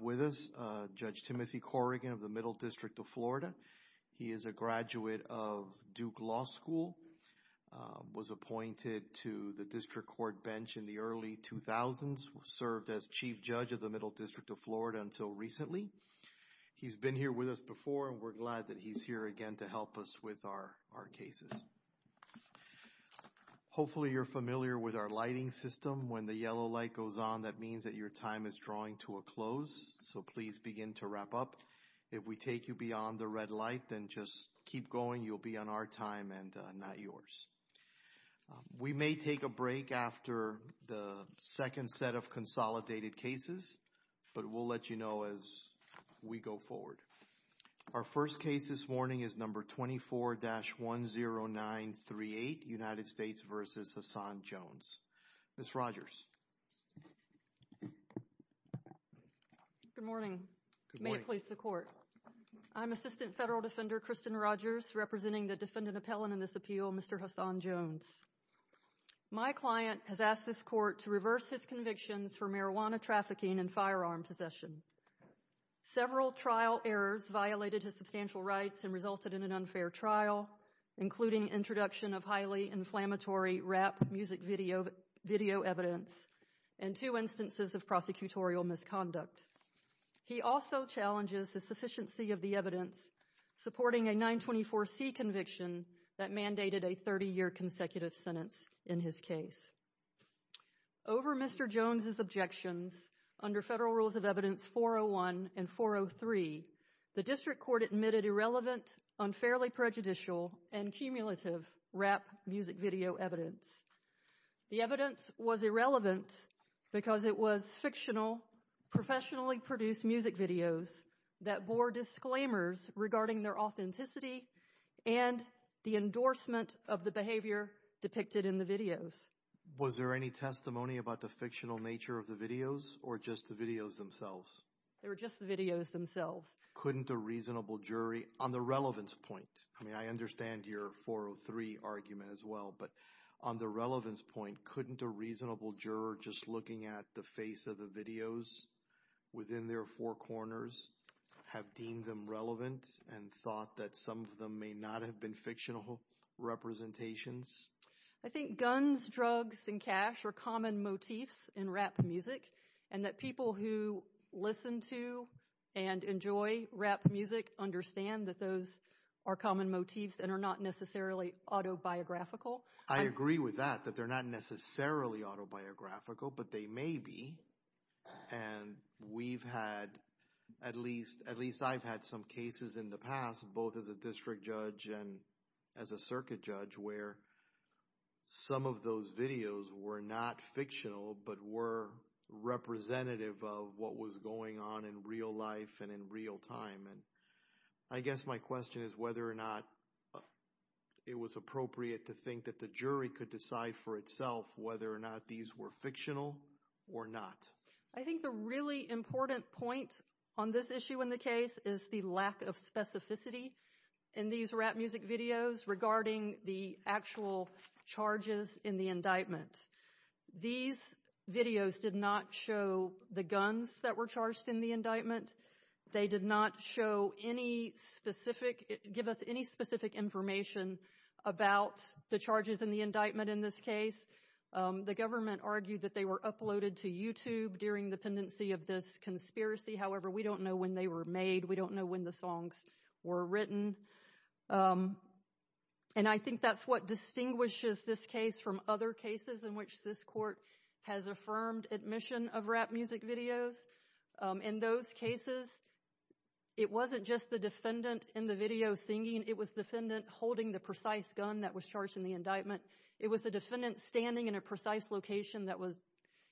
with us, Judge Timothy Corrigan of the Middle District of Florida. He is a graduate of Duke Law School, was appointed to the District Court bench in the early 2000s, served as Chief Judge of the Middle District of Florida until recently. He's been here with us before and we're glad that he's here again to help us with our cases. Hopefully you're familiar with our lighting system. When the yellow light goes on, that means that your time is drawing to a close, so please begin to wrap up. If we take you beyond the red light, then just keep going. You'll be on our time and not yours. We may take a break after the second set of consolidated cases, but we'll let you know as we go forward. Our first case this morning is number 24-10938, United States v. Hassan Jones. Ms. Rogers. Good morning. May it please the Court. I'm Assistant Federal Defender Kristen Rogers, representing the defendant appellant in this appeal, Mr. Hassan Jones. My client has asked this Court to reverse his convictions for marijuana trafficking and firearm possession. Several trial errors violated his substantial rights and resulted in an unfair trial, including introduction of highly inflammatory rap music video evidence and two instances of prosecutorial misconduct. He also challenges the sufficiency of the evidence, supporting a 924C conviction that mandated a 30-year consecutive sentence in his case. Over Mr. Jones' objections, under Federal Rules of Evidence 401 and 403, the District of Columbia filed a complaint with the District Attorney's Office, claiming that the evidence was irrelevant because it was fictional, professionally produced music videos that bore disclaimers regarding their authenticity and the endorsement of the behavior depicted in the videos. Was there any testimony about the fictional nature of the videos or just the videos themselves? They were just the videos themselves. Couldn't a reasonable jury, on the relevance point, I mean I understand your 403 argument as well, but on the relevance point, couldn't a reasonable juror just looking at the face of the videos within their four corners have deemed them relevant and thought that some of them may not have been fictional representations? I think guns, drugs, and cash are common motifs in rap music and that people who listen to and enjoy rap music understand that those are common motifs and are not necessarily autobiographical. I agree with that, that they're not necessarily autobiographical, but they may be. And we've had, at least I've had some cases in the past, both as a district judge and as a circuit judge, where some of those videos were not fictional but were representative of what was going on in real life and in real time. I guess my question is whether or not it was appropriate to think that the jury could decide for itself whether or not these were fictional or not. I think the really important point on this issue in the case is the lack of specificity in these rap music videos regarding the actual charges in the indictment. These videos did not show the guns that were charged in the indictment. They did not give us any specific information about the charges in the indictment in this case. The government argued that they were uploaded to YouTube during the pendency of this conspiracy. However, we don't know when they were made. We don't know when the songs were written. And I think that's what distinguishes this case from other cases in which this court has affirmed admission of rap music videos. In those cases, it wasn't just the defendant in the video singing. It was the defendant holding the precise gun that was charged in the indictment. It was the defendant standing in a precise location that was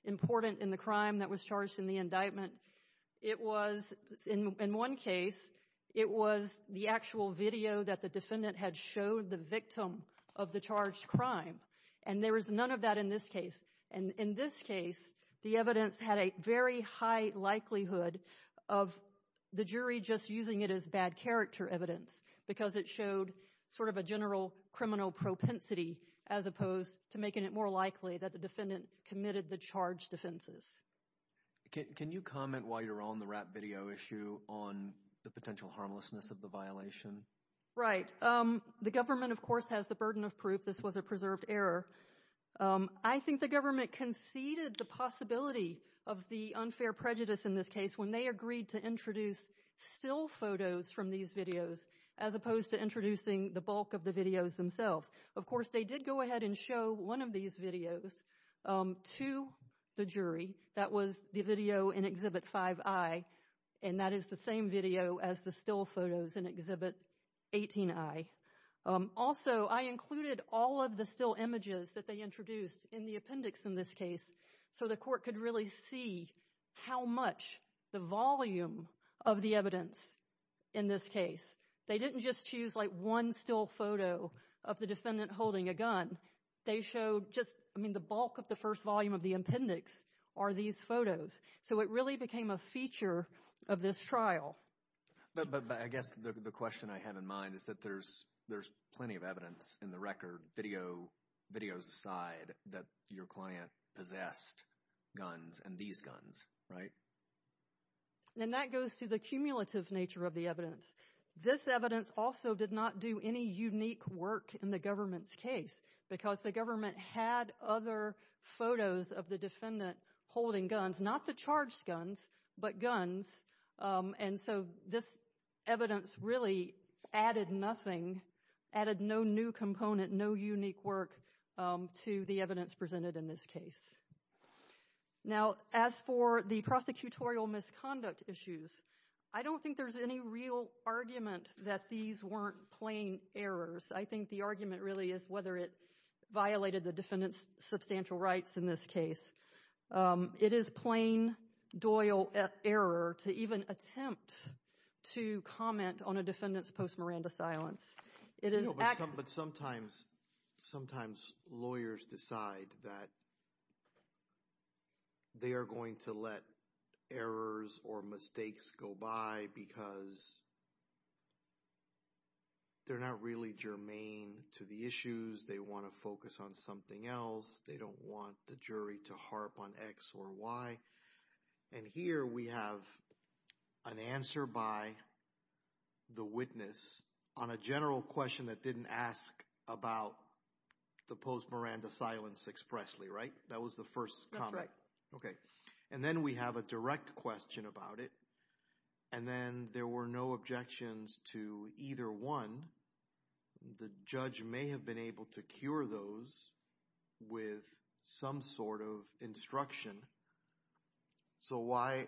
important in the crime that was charged in the indictment. In one case, it was the actual video that the defendant had showed the victim of the charged crime. And there was none of that in this case. And in this case, the evidence had a very high likelihood of the jury just using it as bad character evidence because it showed sort of a general criminal propensity as opposed to making it more likely that the defendant committed the charged offenses. Can you comment while you're on the rap video issue on the potential harmlessness of the violation? Right. The government, of course, has the burden of proof this was a preserved error. I think the government conceded the possibility of the unfair prejudice in this case when they agreed to introduce still photos from these videos as opposed to introducing the bulk of the videos themselves. Of course, they did go ahead and show one of these videos to the jury. That was the video in Exhibit 5i, and that is the same video as the still photos in Exhibit 18i. Also, I included all of the still images that they introduced in the appendix in this case so the court could really see how much the volume of the evidence in this case. They didn't just choose like one still photo of the defendant holding a gun. They showed just, I mean, the bulk of the first volume of the appendix are these photos. So it really became a feature of this trial. But I guess the question I have in mind is that there's plenty of evidence in the record, videos aside, that your client possessed guns and these guns, right? And that goes to the cumulative nature of the evidence. This evidence also did not do any unique work in the government's case because the government had other photos of the defendant holding guns, not the charged guns, but guns. And so this evidence really added nothing, added no new component, no unique work to the evidence presented in this case. Now, as for the prosecutorial misconduct issues, I don't think there's any real argument that these weren't plain errors. I think the argument really is whether it violated the defendant's substantial rights in this case. It is plain Doyle error to even attempt to comment on a defendant's post-Miranda silence. But sometimes lawyers decide that they are going to let errors or mistakes go by because they're not really germane to the issues. They want to focus on something else. They don't want the jury to harp on X or Y. And here we have an answer by the witness on a general question that didn't ask about the post-Miranda silence expressly, right? That was the first comment. Okay. And then we have a direct question about it. And then there were no objections to either one. The judge may have been able to cure those with some sort of instruction. So why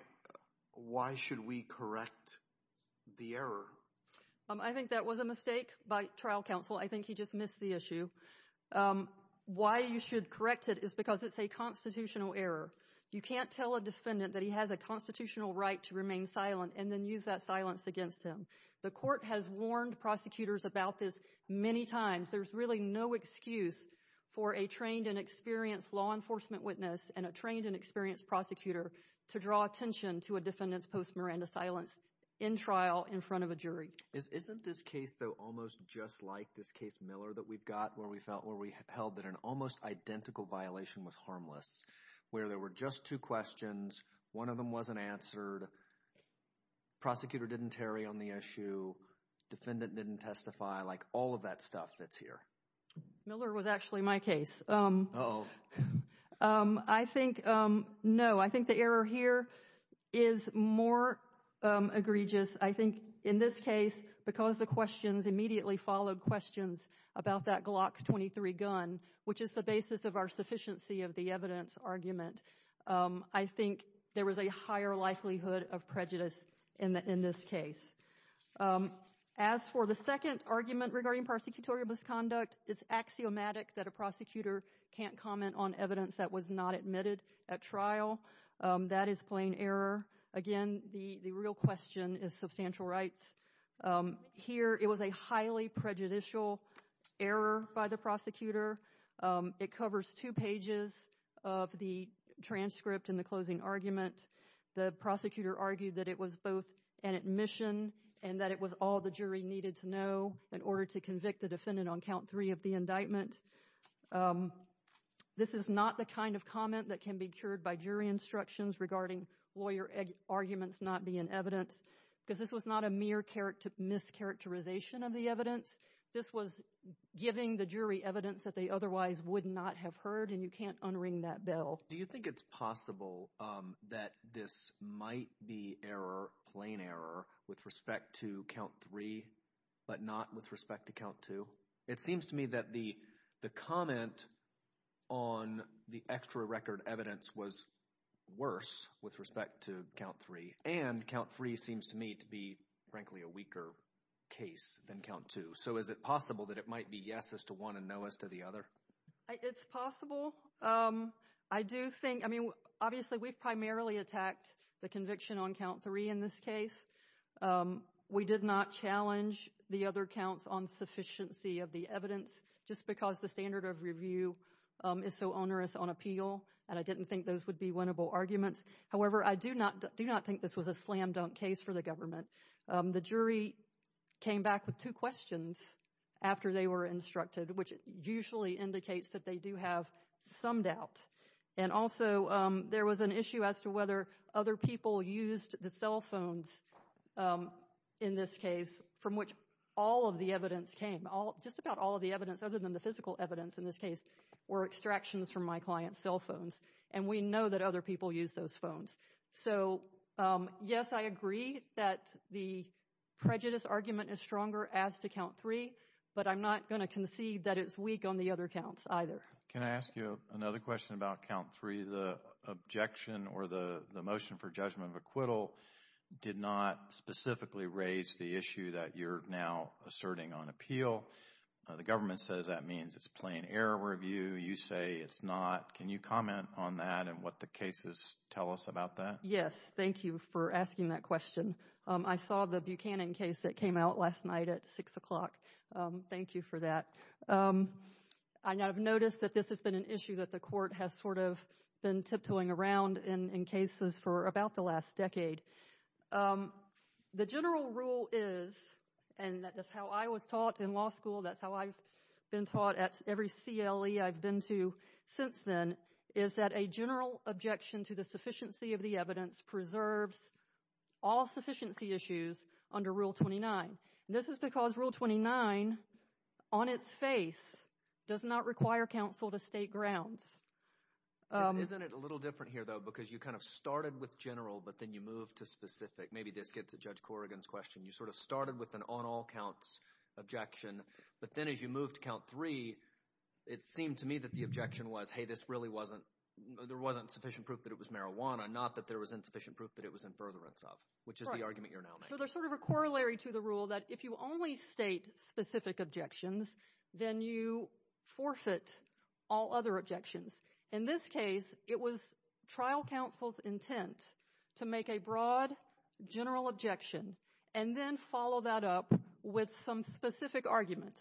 should we correct the error? I think that was a mistake by trial counsel. I think he just missed the issue. Why you should correct it is because it's a constitutional error. You can't tell a defendant that he has a constitutional right to remain silent and then use that silence against him. The court has warned prosecutors about this many times. There's really no excuse for a trained and experienced law enforcement witness and a trained and experienced prosecutor to draw attention to a defendant's post-Miranda silence in trial in front of a jury. Isn't this case, though, almost just like this case Miller that we've got where we held that an almost identical violation was harmless where there were just two questions. One of them wasn't answered. Prosecutor didn't tarry on the issue. Defendant didn't testify. Like all of that stuff that's here. Miller was actually my case. I think, no, I think the error here is more egregious. I think in this case, because the questions immediately followed questions about that Glock 23 gun, which is the basis of our sufficiency of the evidence argument, I think there was a higher likelihood of prejudice in this case. As for the second argument regarding prosecutorial misconduct, it's axiomatic that a prosecutor can't comment on evidence that was not admitted at trial. That is plain error. Again, the real question is substantial rights. Here, it was a highly prejudicial error by the prosecutor. It covers two pages of the transcript in the closing argument. The prosecutor argued that it was both an admission and that it was all the jury needed to know in order to convict the defendant on count three of the indictment. This is not the kind of comment that can be cured by jury instructions regarding lawyer arguments not being evidence, because this was not a mere mischaracterization of the evidence. This was giving the jury evidence that they otherwise would not have heard, and you can't unring that bell. Do you think it's possible that this might be error, plain error, with respect to count three, but not with respect to count two? It seems to me that the comment on the extra record evidence was worse with respect to count three, and count three seems to me to be, frankly, a weaker case than count two. So is it possible that it might be yes as to one and no as to the other? It's possible. I do think—I mean, obviously, we've primarily attacked the conviction on count three in this case. We did not challenge the other counts on sufficiency of the evidence, just because the standard of review is so onerous on appeal, and I didn't think those would be winnable arguments. However, I do not think this was a slam-dunk case for the government. The jury came back with two questions after they were instructed, which usually indicates that they do have some doubt, and also there was an issue as to whether other people used the cell phones in this case, from which all of the evidence came. Just about all of the evidence, other than the physical evidence in this case, were extractions from my client's cell phones, and we know that other people use those phones. So yes, I agree that the prejudice argument is stronger as to count three, but I'm not going to concede that it's weak on the other counts either. Can I ask you another question about count three? The objection or the motion for judgment of acquittal did not specifically raise the issue that you're now asserting on appeal. The government says that means it's a plain error review. You say it's not. Can you comment on that and what the cases tell us about that? Yes. Thank you for asking that question. I saw the Buchanan case that came out last night at 6 o'clock. Thank you for that. I have noticed that this has been an issue that the court has sort of been tiptoeing around in cases for about the last decade. The general rule is, and that's how I was taught in law school, that's how I've been taught at every CLE I've been to since then, is that a general objection to the sufficiency of the evidence preserves all sufficiency issues under Rule 29. This is because Rule 29, on its face, does not require counsel to state grounds. Isn't it a little different here, though, because you kind of started with general but then you moved to specific? Maybe this gets at Judge Corrigan's question. You sort of started with an on-all counts objection, but then as you moved to count three, it seemed to me that the objection was, hey, there wasn't sufficient proof that it was marijuana, not that there was insufficient proof that it was in furtherance of, which is the argument you're now making. So there's sort of a corollary to the rule that if you only state specific objections, then you forfeit all other objections. In this case, it was trial counsel's intent to make a broad general objection, and then follow that up with some specific arguments.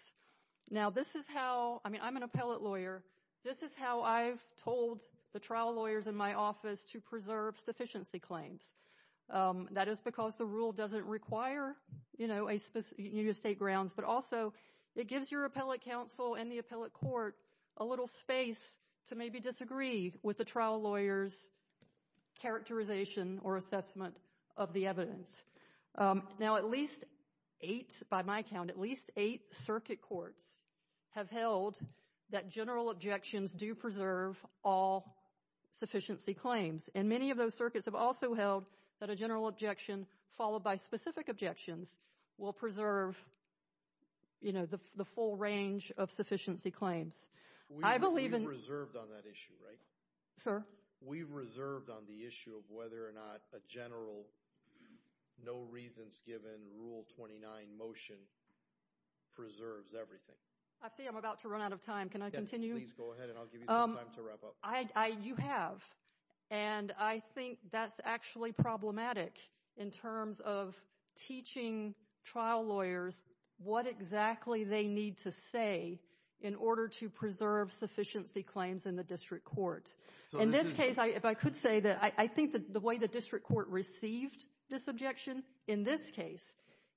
Now, this is how, I mean, I'm an appellate lawyer. This is how I've told the trial lawyers in my office to preserve sufficiency claims. That is because the rule doesn't require you to state grounds, but also it gives your appellate counsel and the appellate court a little space to maybe disagree with the trial lawyer's characterization or assessment of the evidence. Now, at least eight, by my count, at least eight circuit courts have held that general objections do preserve all sufficiency claims. And many of those circuits have also held that a general objection, followed by specific objections, will preserve the full range of sufficiency claims. We've reserved on that issue, right? Sir? We've reserved on the issue of whether or not a general no reasons given Rule 29 motion preserves everything. I see I'm about to run out of time. Can I continue? Yes, please go ahead, and I'll give you some time to wrap up. You have, and I think that's actually problematic in terms of teaching trial lawyers what exactly they need to say in order to preserve sufficiency claims in the district court. In this case, if I could say that I think the way the district court received this objection, in this case,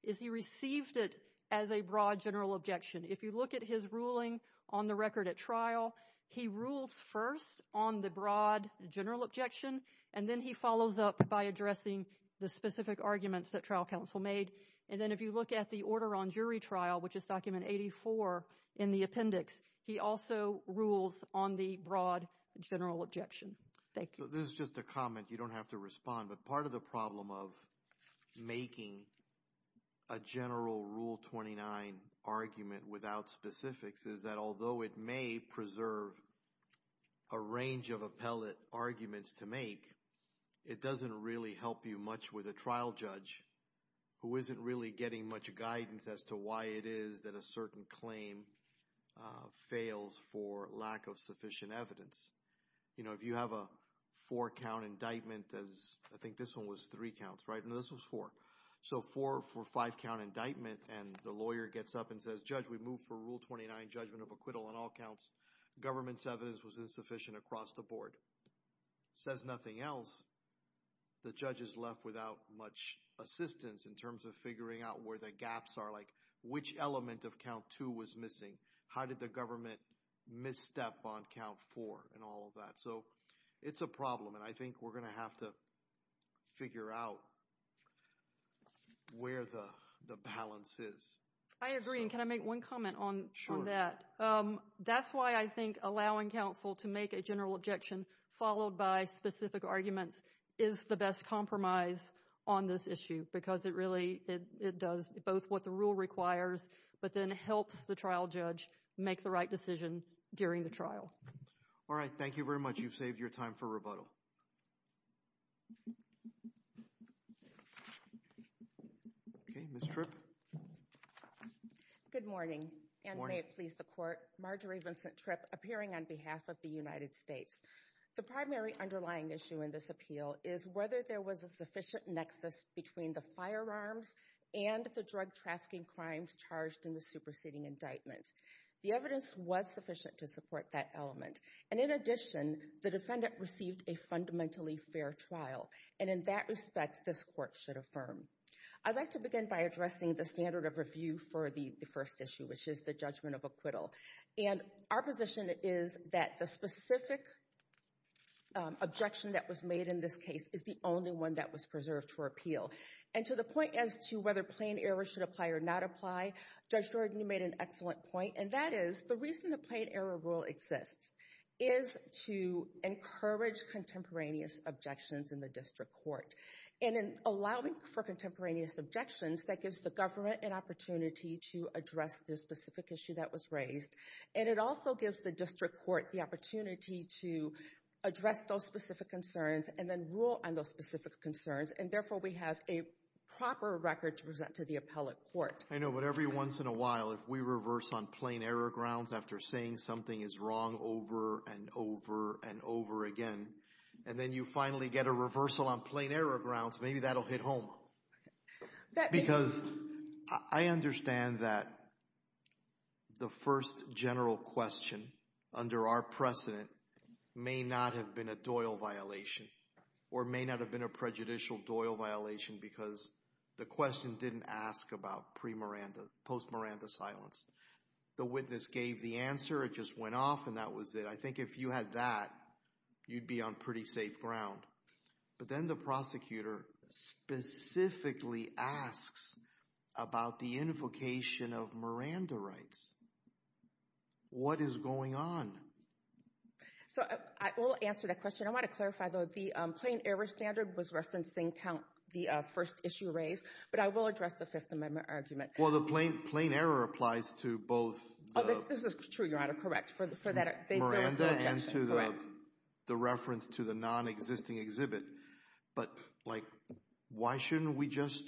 is he received it as a broad general objection. If you look at his ruling on the record at trial, he rules first on the broad general objection, and then he follows up by addressing the specific arguments that trial counsel made. And then if you look at the order on jury trial, which is document 84 in the appendix, he also rules on the broad general objection. Thank you. This is just a comment. You don't have to respond. But part of the problem of making a general Rule 29 argument without specifics is that although it may preserve a range of appellate arguments to make, it doesn't really help you much with a trial judge who isn't really getting much guidance as to why it is that a certain claim fails for lack of sufficient evidence. You know, if you have a four-count indictment, as I think this one was three counts, right? No, this was four. So four for five-count indictment, and the lawyer gets up and says, Judge, we moved for Rule 29 judgment of acquittal on all counts. Government's evidence was insufficient across the board. Says nothing else. The judge is left without much assistance in terms of figuring out where the gaps are, like which element of count two was missing. How did the government misstep on count four and all of that? So it's a problem, and I think we're going to have to figure out where the balance is. I agree, and can I make one comment on that? That's why I think allowing counsel to make a general objection followed by specific arguments is the best compromise on this issue because it really does both what the rule requires, but then helps the trial judge make the right decision during the trial. All right, thank you very much. You've saved your time for rebuttal. Okay, Ms. Tripp. Good morning, and may it please the Court. Marjorie Vincent Tripp, appearing on behalf of the United States. The primary underlying issue in this appeal is whether there was a sufficient nexus between the firearms and the drug trafficking crimes charged in the superseding indictment. The evidence was sufficient to support that element, and in addition, the defendant received a fundamentally fair trial, and in that respect, this Court should affirm. I'd like to begin by addressing the standard of review for the first issue, which is the judgment of acquittal, and our position is that the specific objection that was made in this case is the only one that was preserved for appeal, and to the point as to whether plain error should apply or not apply, Judge Jordan, you made an excellent point, and that is the reason the plain error rule exists is to encourage contemporaneous objections in the district court, and in allowing for contemporaneous objections, that gives the government an opportunity to address the specific issue that was raised, and it also gives the district court the opportunity to address those specific concerns and then rule on those specific concerns, and therefore we have a proper record to present to the appellate court. I know, but every once in a while, if we reverse on plain error grounds after saying something is wrong over and over and over again, and then you finally get a reversal on plain error grounds, maybe that will hit home, because I understand that the first general question under our precedent may not have been a Doyle violation or may not have been a prejudicial Doyle violation because the question didn't ask about pre-Miranda, post-Miranda silence. The witness gave the answer, it just went off, and that was it. I think if you had that, you'd be on pretty safe ground. But then the prosecutor specifically asks about the invocation of Miranda rights. What is going on? I will answer that question. I want to clarify, though, the plain error standard was referencing the first issue raised, but I will address the Fifth Amendment argument. Well, the plain error applies to both Miranda and to the reference to the nonexisting exhibit, but, like, why shouldn't we just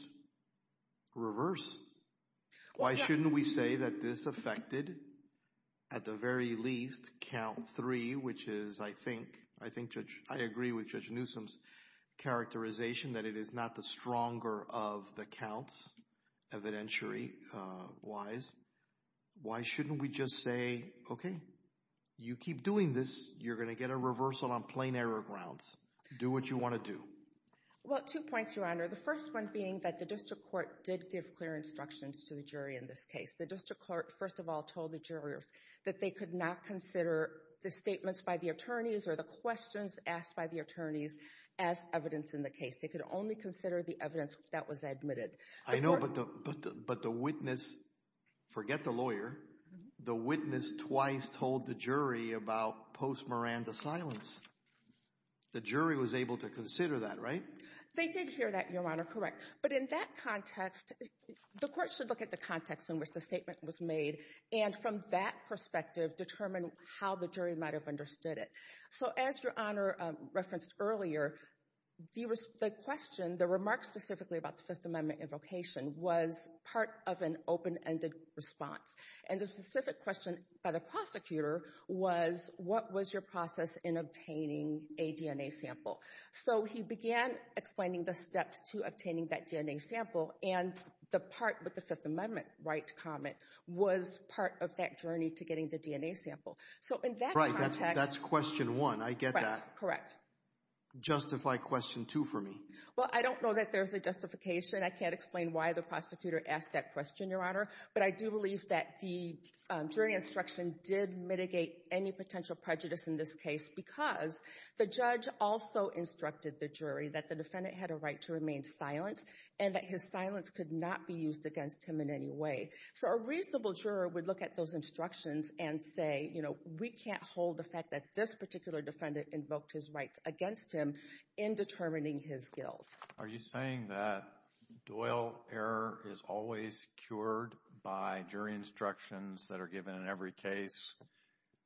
reverse? Why shouldn't we say that this affected, at the very least, count three, which is, I think, I agree with Judge Newsom's characterization that it is not the stronger of the counts evidentiary-wise. Why shouldn't we just say, okay, you keep doing this, you're going to get a reversal on plain error grounds. Do what you want to do. Well, two points, Your Honor. The first one being that the district court did give clear instructions to the jury in this case. The district court, first of all, told the jurors that they could not consider the statements by the attorneys or the questions asked by the attorneys as evidence in the case. They could only consider the evidence that was admitted. I know, but the witness, forget the lawyer, the witness twice told the jury about post-Miranda silence. The jury was able to consider that, right? They did hear that, Your Honor, correct. But in that context, the court should look at the context in which the statement was made and, from that perspective, determine how the jury might have understood it. So as Your Honor referenced earlier, the question, the remark specifically about the Fifth Amendment invocation, was part of an open-ended response. And the specific question by the prosecutor was, what was your process in obtaining a DNA sample? So he began explaining the steps to obtaining that DNA sample, and the part with the Fifth Amendment right to comment was part of that journey to getting the DNA sample. Right, that's question one. I get that. Correct. Justify question two for me. Well, I don't know that there's a justification. I can't explain why the prosecutor asked that question, Your Honor. But I do believe that the jury instruction did mitigate any potential prejudice in this case because the judge also instructed the jury that the defendant had a right to remain silent and that his silence could not be used against him in any way. So a reasonable juror would look at those instructions and say, you know, we can't hold the fact that this particular defendant invoked his rights against him in determining his guilt. Are you saying that Doyle error is always cured by jury instructions that are given in every case,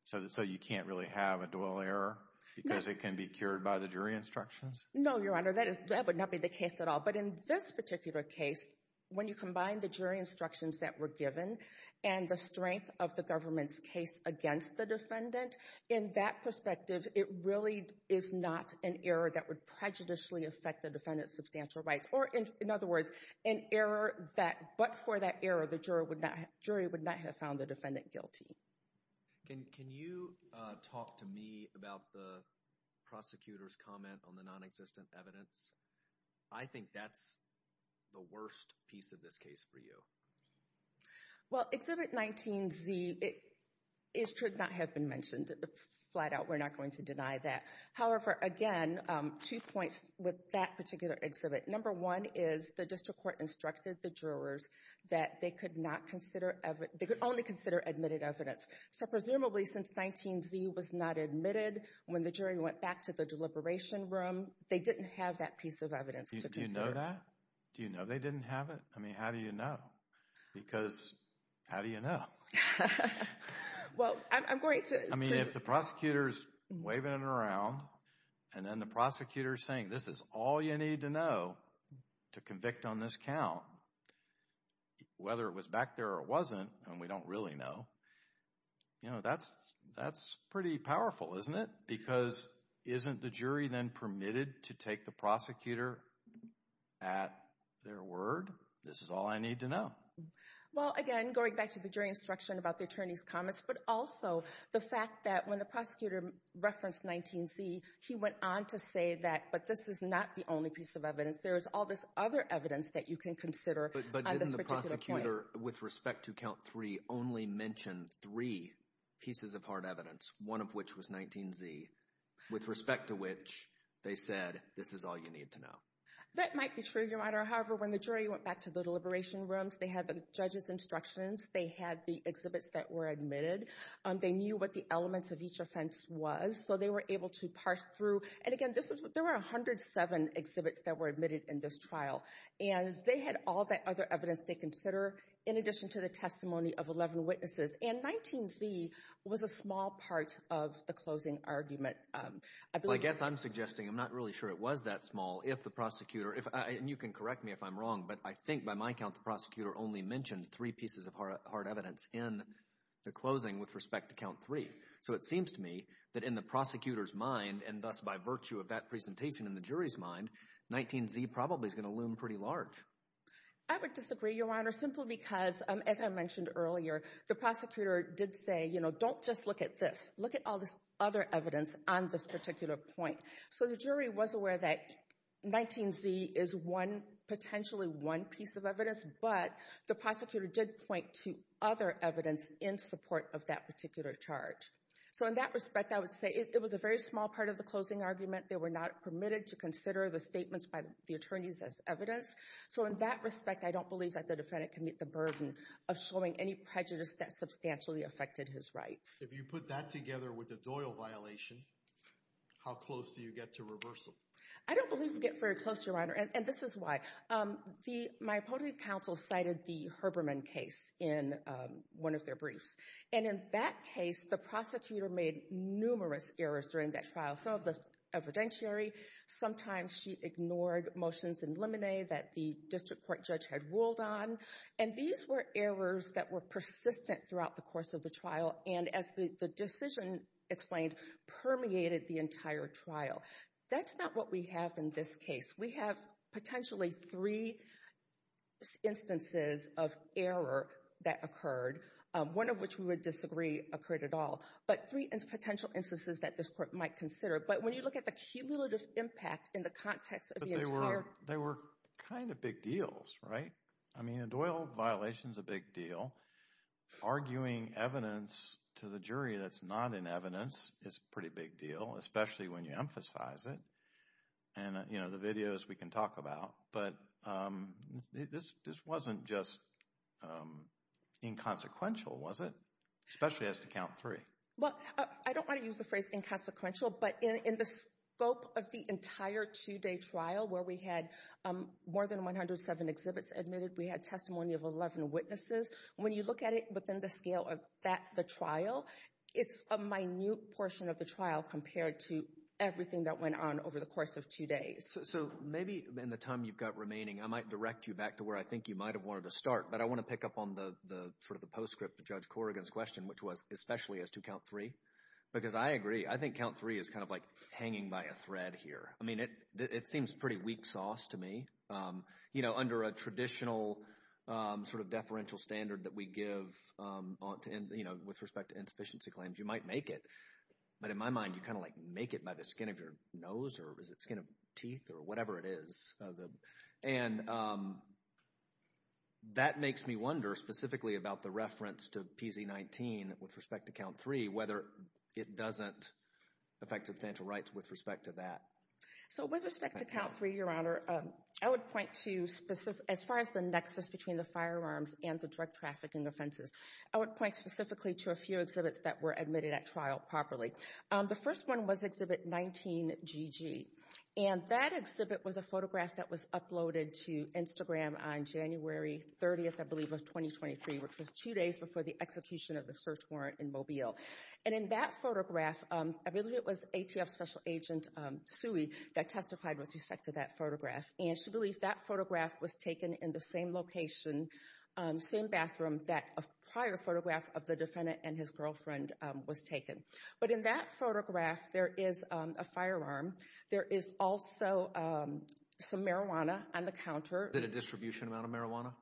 so you can't really have a Doyle error because it can be cured by the jury instructions? No, Your Honor, that would not be the case at all. But in this particular case, when you combine the jury instructions that were given and the strength of the government's case against the defendant, in that perspective, it really is not an error that would prejudicially affect the defendant's substantial rights. Or in other words, an error that but for that error, the jury would not have found the defendant guilty. Can you talk to me about the prosecutor's comment on the nonexistent evidence? I think that's the worst piece of this case for you. Well, Exhibit 19Z, it should not have been mentioned. Flat out, we're not going to deny that. However, again, two points with that particular exhibit. Number one is the district court instructed the jurors that they could only consider admitted evidence. So presumably since 19Z was not admitted, when the jury went back to the deliberation room, they didn't have that piece of evidence to consider. Do you know that? Do you know they didn't have it? I mean, how do you know? Because how do you know? Well, I'm going to— I mean, if the prosecutor's waving it around and then the prosecutor's saying, this is all you need to know to convict on this count, whether it was back there or it wasn't, and we don't really know, you know, that's pretty powerful, isn't it? Because isn't the jury then permitted to take the prosecutor at their word? This is all I need to know. Well, again, going back to the jury instruction about the attorney's comments, but also the fact that when the prosecutor referenced 19Z, he went on to say that, but this is not the only piece of evidence. There's all this other evidence that you can consider on this particular case. But didn't the prosecutor, with respect to Count 3, only mention three pieces of hard evidence, one of which was 19Z, with respect to which they said, this is all you need to know? That might be true, Your Honor. However, when the jury went back to the deliberation rooms, they had the judge's instructions. They had the exhibits that were admitted. They knew what the elements of each offense was, so they were able to parse through. And, again, there were 107 exhibits that were admitted in this trial, and they had all that other evidence they consider in addition to the testimony of 11 witnesses. And 19Z was a small part of the closing argument. Well, I guess I'm suggesting, I'm not really sure it was that small, if the prosecutor, and you can correct me if I'm wrong, but I think, by my count, the prosecutor only mentioned three pieces of hard evidence in the closing with respect to Count 3. So it seems to me that in the prosecutor's mind, and thus by virtue of that presentation in the jury's mind, 19Z probably is going to loom pretty large. I would disagree, Your Honor, simply because, as I mentioned earlier, the prosecutor did say, you know, don't just look at this. Look at all this other evidence on this particular point. So the jury was aware that 19Z is one, potentially one piece of evidence, but the prosecutor did point to other evidence in support of that particular charge. So in that respect, I would say it was a very small part of the closing argument. They were not permitted to consider the statements by the attorneys as evidence. So in that respect, I don't believe that the defendant can meet the burden of showing any prejudice that substantially affected his rights. If you put that together with the Doyle violation, how close do you get to reversal? I don't believe we get very close, Your Honor, and this is why. My opponent counsel cited the Herbermann case in one of their briefs, and in that case, the prosecutor made numerous errors during that trial. Some of the evidentiary, sometimes she ignored motions in limine that the district court judge had ruled on, and these were errors that were persistent throughout the course of the trial, and as the decision explained, permeated the entire trial. That's not what we have in this case. We have potentially three instances of error that occurred, one of which we would disagree occurred at all, but three potential instances that this court might consider. But when you look at the cumulative impact in the context of the entire… But they were kind of big deals, right? I mean, a Doyle violation is a big deal. Arguing evidence to the jury that's not in evidence is a pretty big deal, especially when you emphasize it, and the videos we can talk about, but this wasn't just inconsequential, was it? Especially as to count three. Well, I don't want to use the phrase inconsequential, but in the scope of the entire two-day trial where we had more than 107 exhibits admitted, we had testimony of 11 witnesses. When you look at it within the scale of the trial, it's a minute portion of the trial compared to everything that went on over the course of two days. So maybe in the time you've got remaining, I might direct you back to where I think you might have wanted to start, but I want to pick up on the sort of the postscript to Judge Corrigan's question, which was especially as to count three, because I agree. I think count three is kind of like hanging by a thread here. I mean, it seems pretty weak sauce to me. Under a traditional sort of deferential standard that we give with respect to insufficiency claims, you might make it. But in my mind, you kind of like make it by the skin of your nose or is it skin of teeth or whatever it is. And that makes me wonder specifically about the reference to PZ19 with respect to count three, whether it doesn't affect substantial rights with respect to that. So with respect to count three, Your Honor, I would point to as far as the nexus between the firearms and the drug trafficking offenses, I would point specifically to a few exhibits that were admitted at trial properly. The first one was exhibit 19GG. And that exhibit was a photograph that was uploaded to Instagram on January 30th, I believe, of 2023, which was two days before the execution of the search warrant in Mobile. And in that photograph, I believe it was ATF Special Agent Suey that testified with respect to that photograph. And she believed that photograph was taken in the same location, same bathroom that a prior photograph of the defendant and his girlfriend was taken. But in that photograph, there is a firearm. There is also some marijuana on the counter. Was it a distribution amount of marijuana?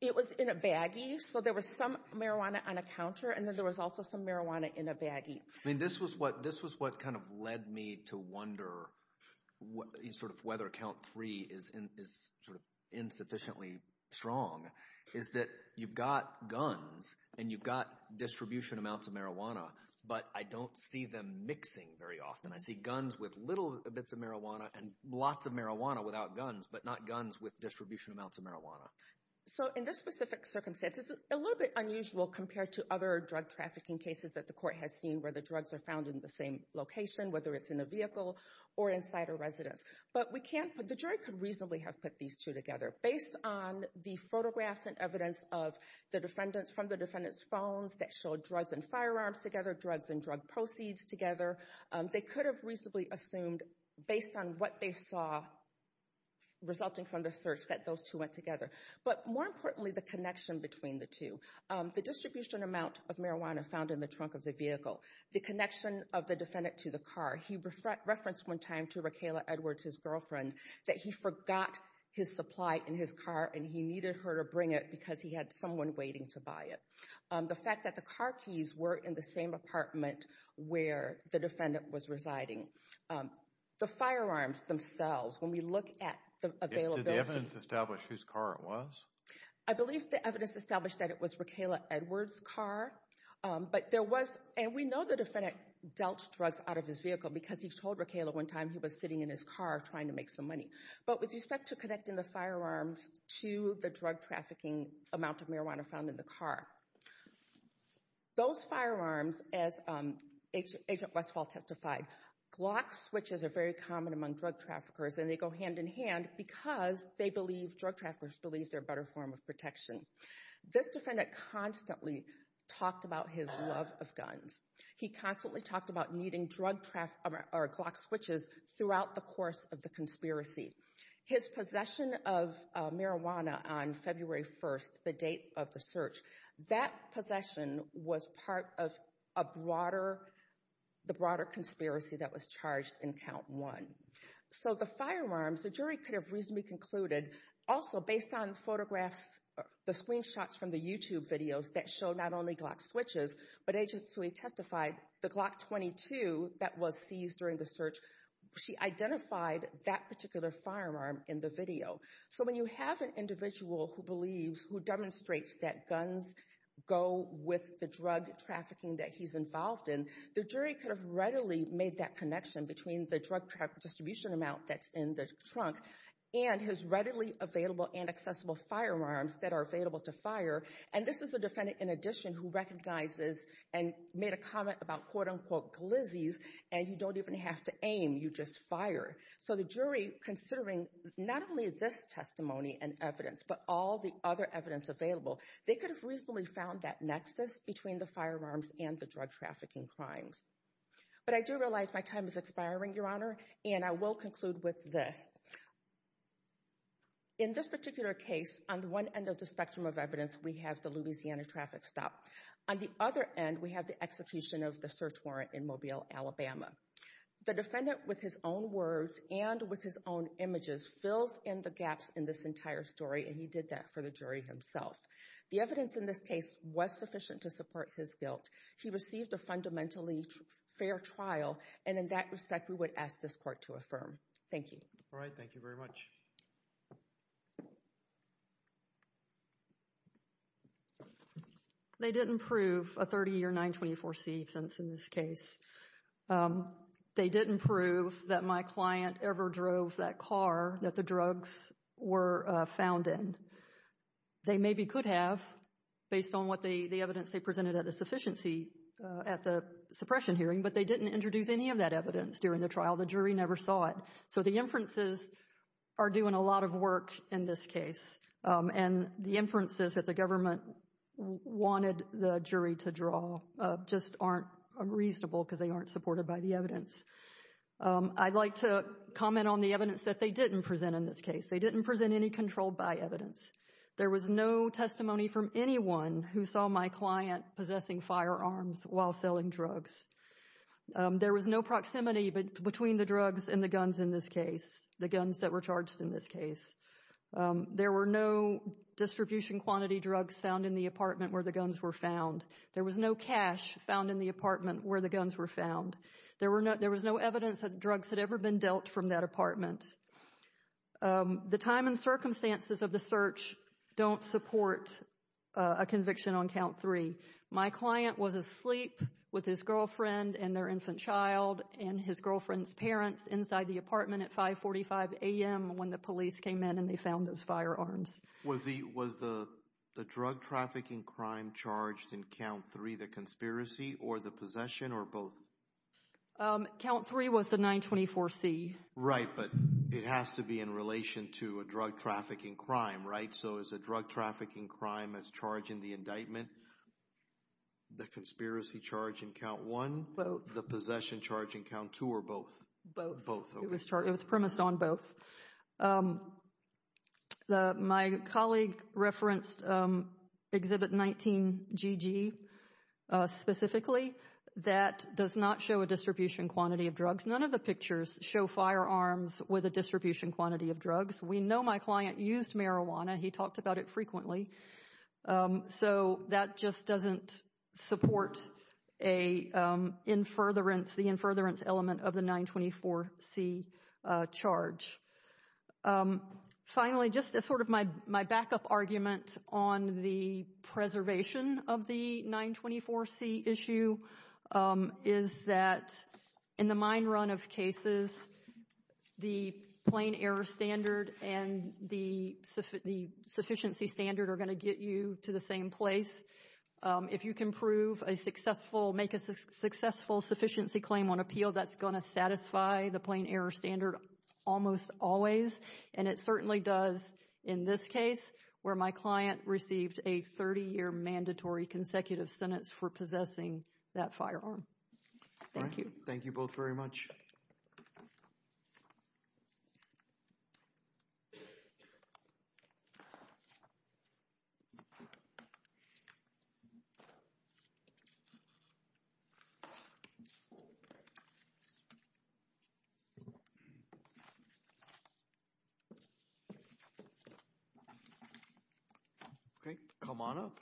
It was in a baggie. So there was some marijuana on a counter, and then there was also some marijuana in a baggie. I mean, this was what kind of led me to wonder sort of whether count three is sort of insufficiently strong, is that you've got guns and you've got distribution amounts of marijuana, but I don't see them mixing very often. I see guns with little bits of marijuana and lots of marijuana without guns, but not guns with distribution amounts of marijuana. So in this specific circumstance, it's a little bit unusual compared to other drug trafficking cases that the court has seen where the drugs are found in the same location, whether it's in a vehicle or inside a residence. But the jury could reasonably have put these two together. Based on the photographs and evidence from the defendant's phones that showed drugs and firearms together, drugs and drug proceeds together, they could have reasonably assumed based on what they saw resulting from the search that those two went together. But more importantly, the connection between the two, the distribution amount of marijuana found in the trunk of the vehicle, the connection of the defendant to the car. He referenced one time to Raquel Edwards, his girlfriend, that he forgot his supply in his car and he needed her to bring it because he had someone waiting to buy it. The fact that the car keys were in the same apartment where the defendant was residing. The firearms themselves, when we look at the availability. Did the evidence establish whose car it was? I believe the evidence established that it was Raquel Edwards' car. And we know the defendant dealt drugs out of his vehicle because he told Raquel at one time he was sitting in his car trying to make some money. But with respect to connecting the firearms to the drug trafficking amount of marijuana found in the car, those firearms, as Agent Westphal testified, Glock switches are very common among drug traffickers and they go hand in hand because drug traffickers believe they're a better form of protection. This defendant constantly talked about his love of guns. He constantly talked about needing Glock switches throughout the course of the conspiracy. His possession of marijuana on February 1st, the date of the search, that possession was part of the broader conspiracy that was charged in Count 1. So the firearms, the jury could have reasonably concluded, also based on photographs, the screenshots from the YouTube videos that show not only Glock switches, but Agents who he testified, the Glock 22 that was seized during the search, she identified that particular firearm in the video. So when you have an individual who believes, who demonstrates that guns go with the drug trafficking that he's involved in, the jury could have readily made that connection between the drug distribution amount that's in the trunk and his readily available and accessible firearms that are available to fire. And this is a defendant, in addition, who recognizes and made a comment about quote unquote glizzies and you don't even have to aim, you just fire. So the jury, considering not only this testimony and evidence, but all the other evidence available, they could have reasonably found that nexus between the firearms and the drug trafficking crimes. But I do realize my time is expiring, Your Honor, and I will conclude with this. In this particular case, on one end of the spectrum of evidence, we have the Louisiana traffic stop. On the other end, we have the execution of the search warrant in Mobile, Alabama. The defendant, with his own words and with his own images, fills in the gaps in this entire story, and he did that for the jury himself. The evidence in this case was sufficient to support his guilt. He received a fundamentally fair trial, and in that respect, we would ask this court to affirm. Thank you. All right. Thank you very much. They didn't prove a 30-year 924c offense in this case. They didn't prove that my client ever drove that car that the drugs were found in. They maybe could have based on what the evidence they presented at the sufficiency, at the suppression hearing, but they didn't introduce any of that evidence during the trial. The jury never saw it. So the inferences are doing a lot of work in this case, and the inferences that the government wanted the jury to draw just aren't reasonable because they aren't supported by the evidence. I'd like to comment on the evidence that they didn't present in this case. They didn't present any controlled by evidence. There was no testimony from anyone who saw my client possessing firearms while selling drugs. There was no proximity between the drugs and the guns in this case, the guns that were charged in this case. There were no distribution quantity drugs found in the apartment where the guns were found. There was no cash found in the apartment where the guns were found. There was no evidence that drugs had ever been dealt from that apartment. The time and circumstances of the search don't support a conviction on count three. My client was asleep with his girlfriend and their infant child and his girlfriend's parents inside the apartment at 5.45 a.m. when the police came in and they found those firearms. Was the drug-trafficking crime charged in count three the conspiracy or the possession or both? Count three was the 924C. Right, but it has to be in relation to a drug-trafficking crime, right? So is a drug-trafficking crime as charged in the indictment the conspiracy charge in count one? The possession charge in count two or both? Both. It was premised on both. My colleague referenced Exhibit 19GG specifically. That does not show a distribution quantity of drugs. None of the pictures show firearms with a distribution quantity of drugs. We know my client used marijuana. He talked about it frequently. So that just doesn't support the in-furtherance element of the 924C charge. Finally, just as sort of my backup argument on the preservation of the 924C issue, is that in the mine run of cases, the plain error standard and the sufficiency standard are going to get you to the same place. If you can make a successful sufficiency claim on appeal, that's going to satisfy the plain error standard almost always. And it certainly does in this case where my client received a 30-year mandatory consecutive sentence for possessing that firearm. Thank you. Thank you both very much. Okay. Come on up.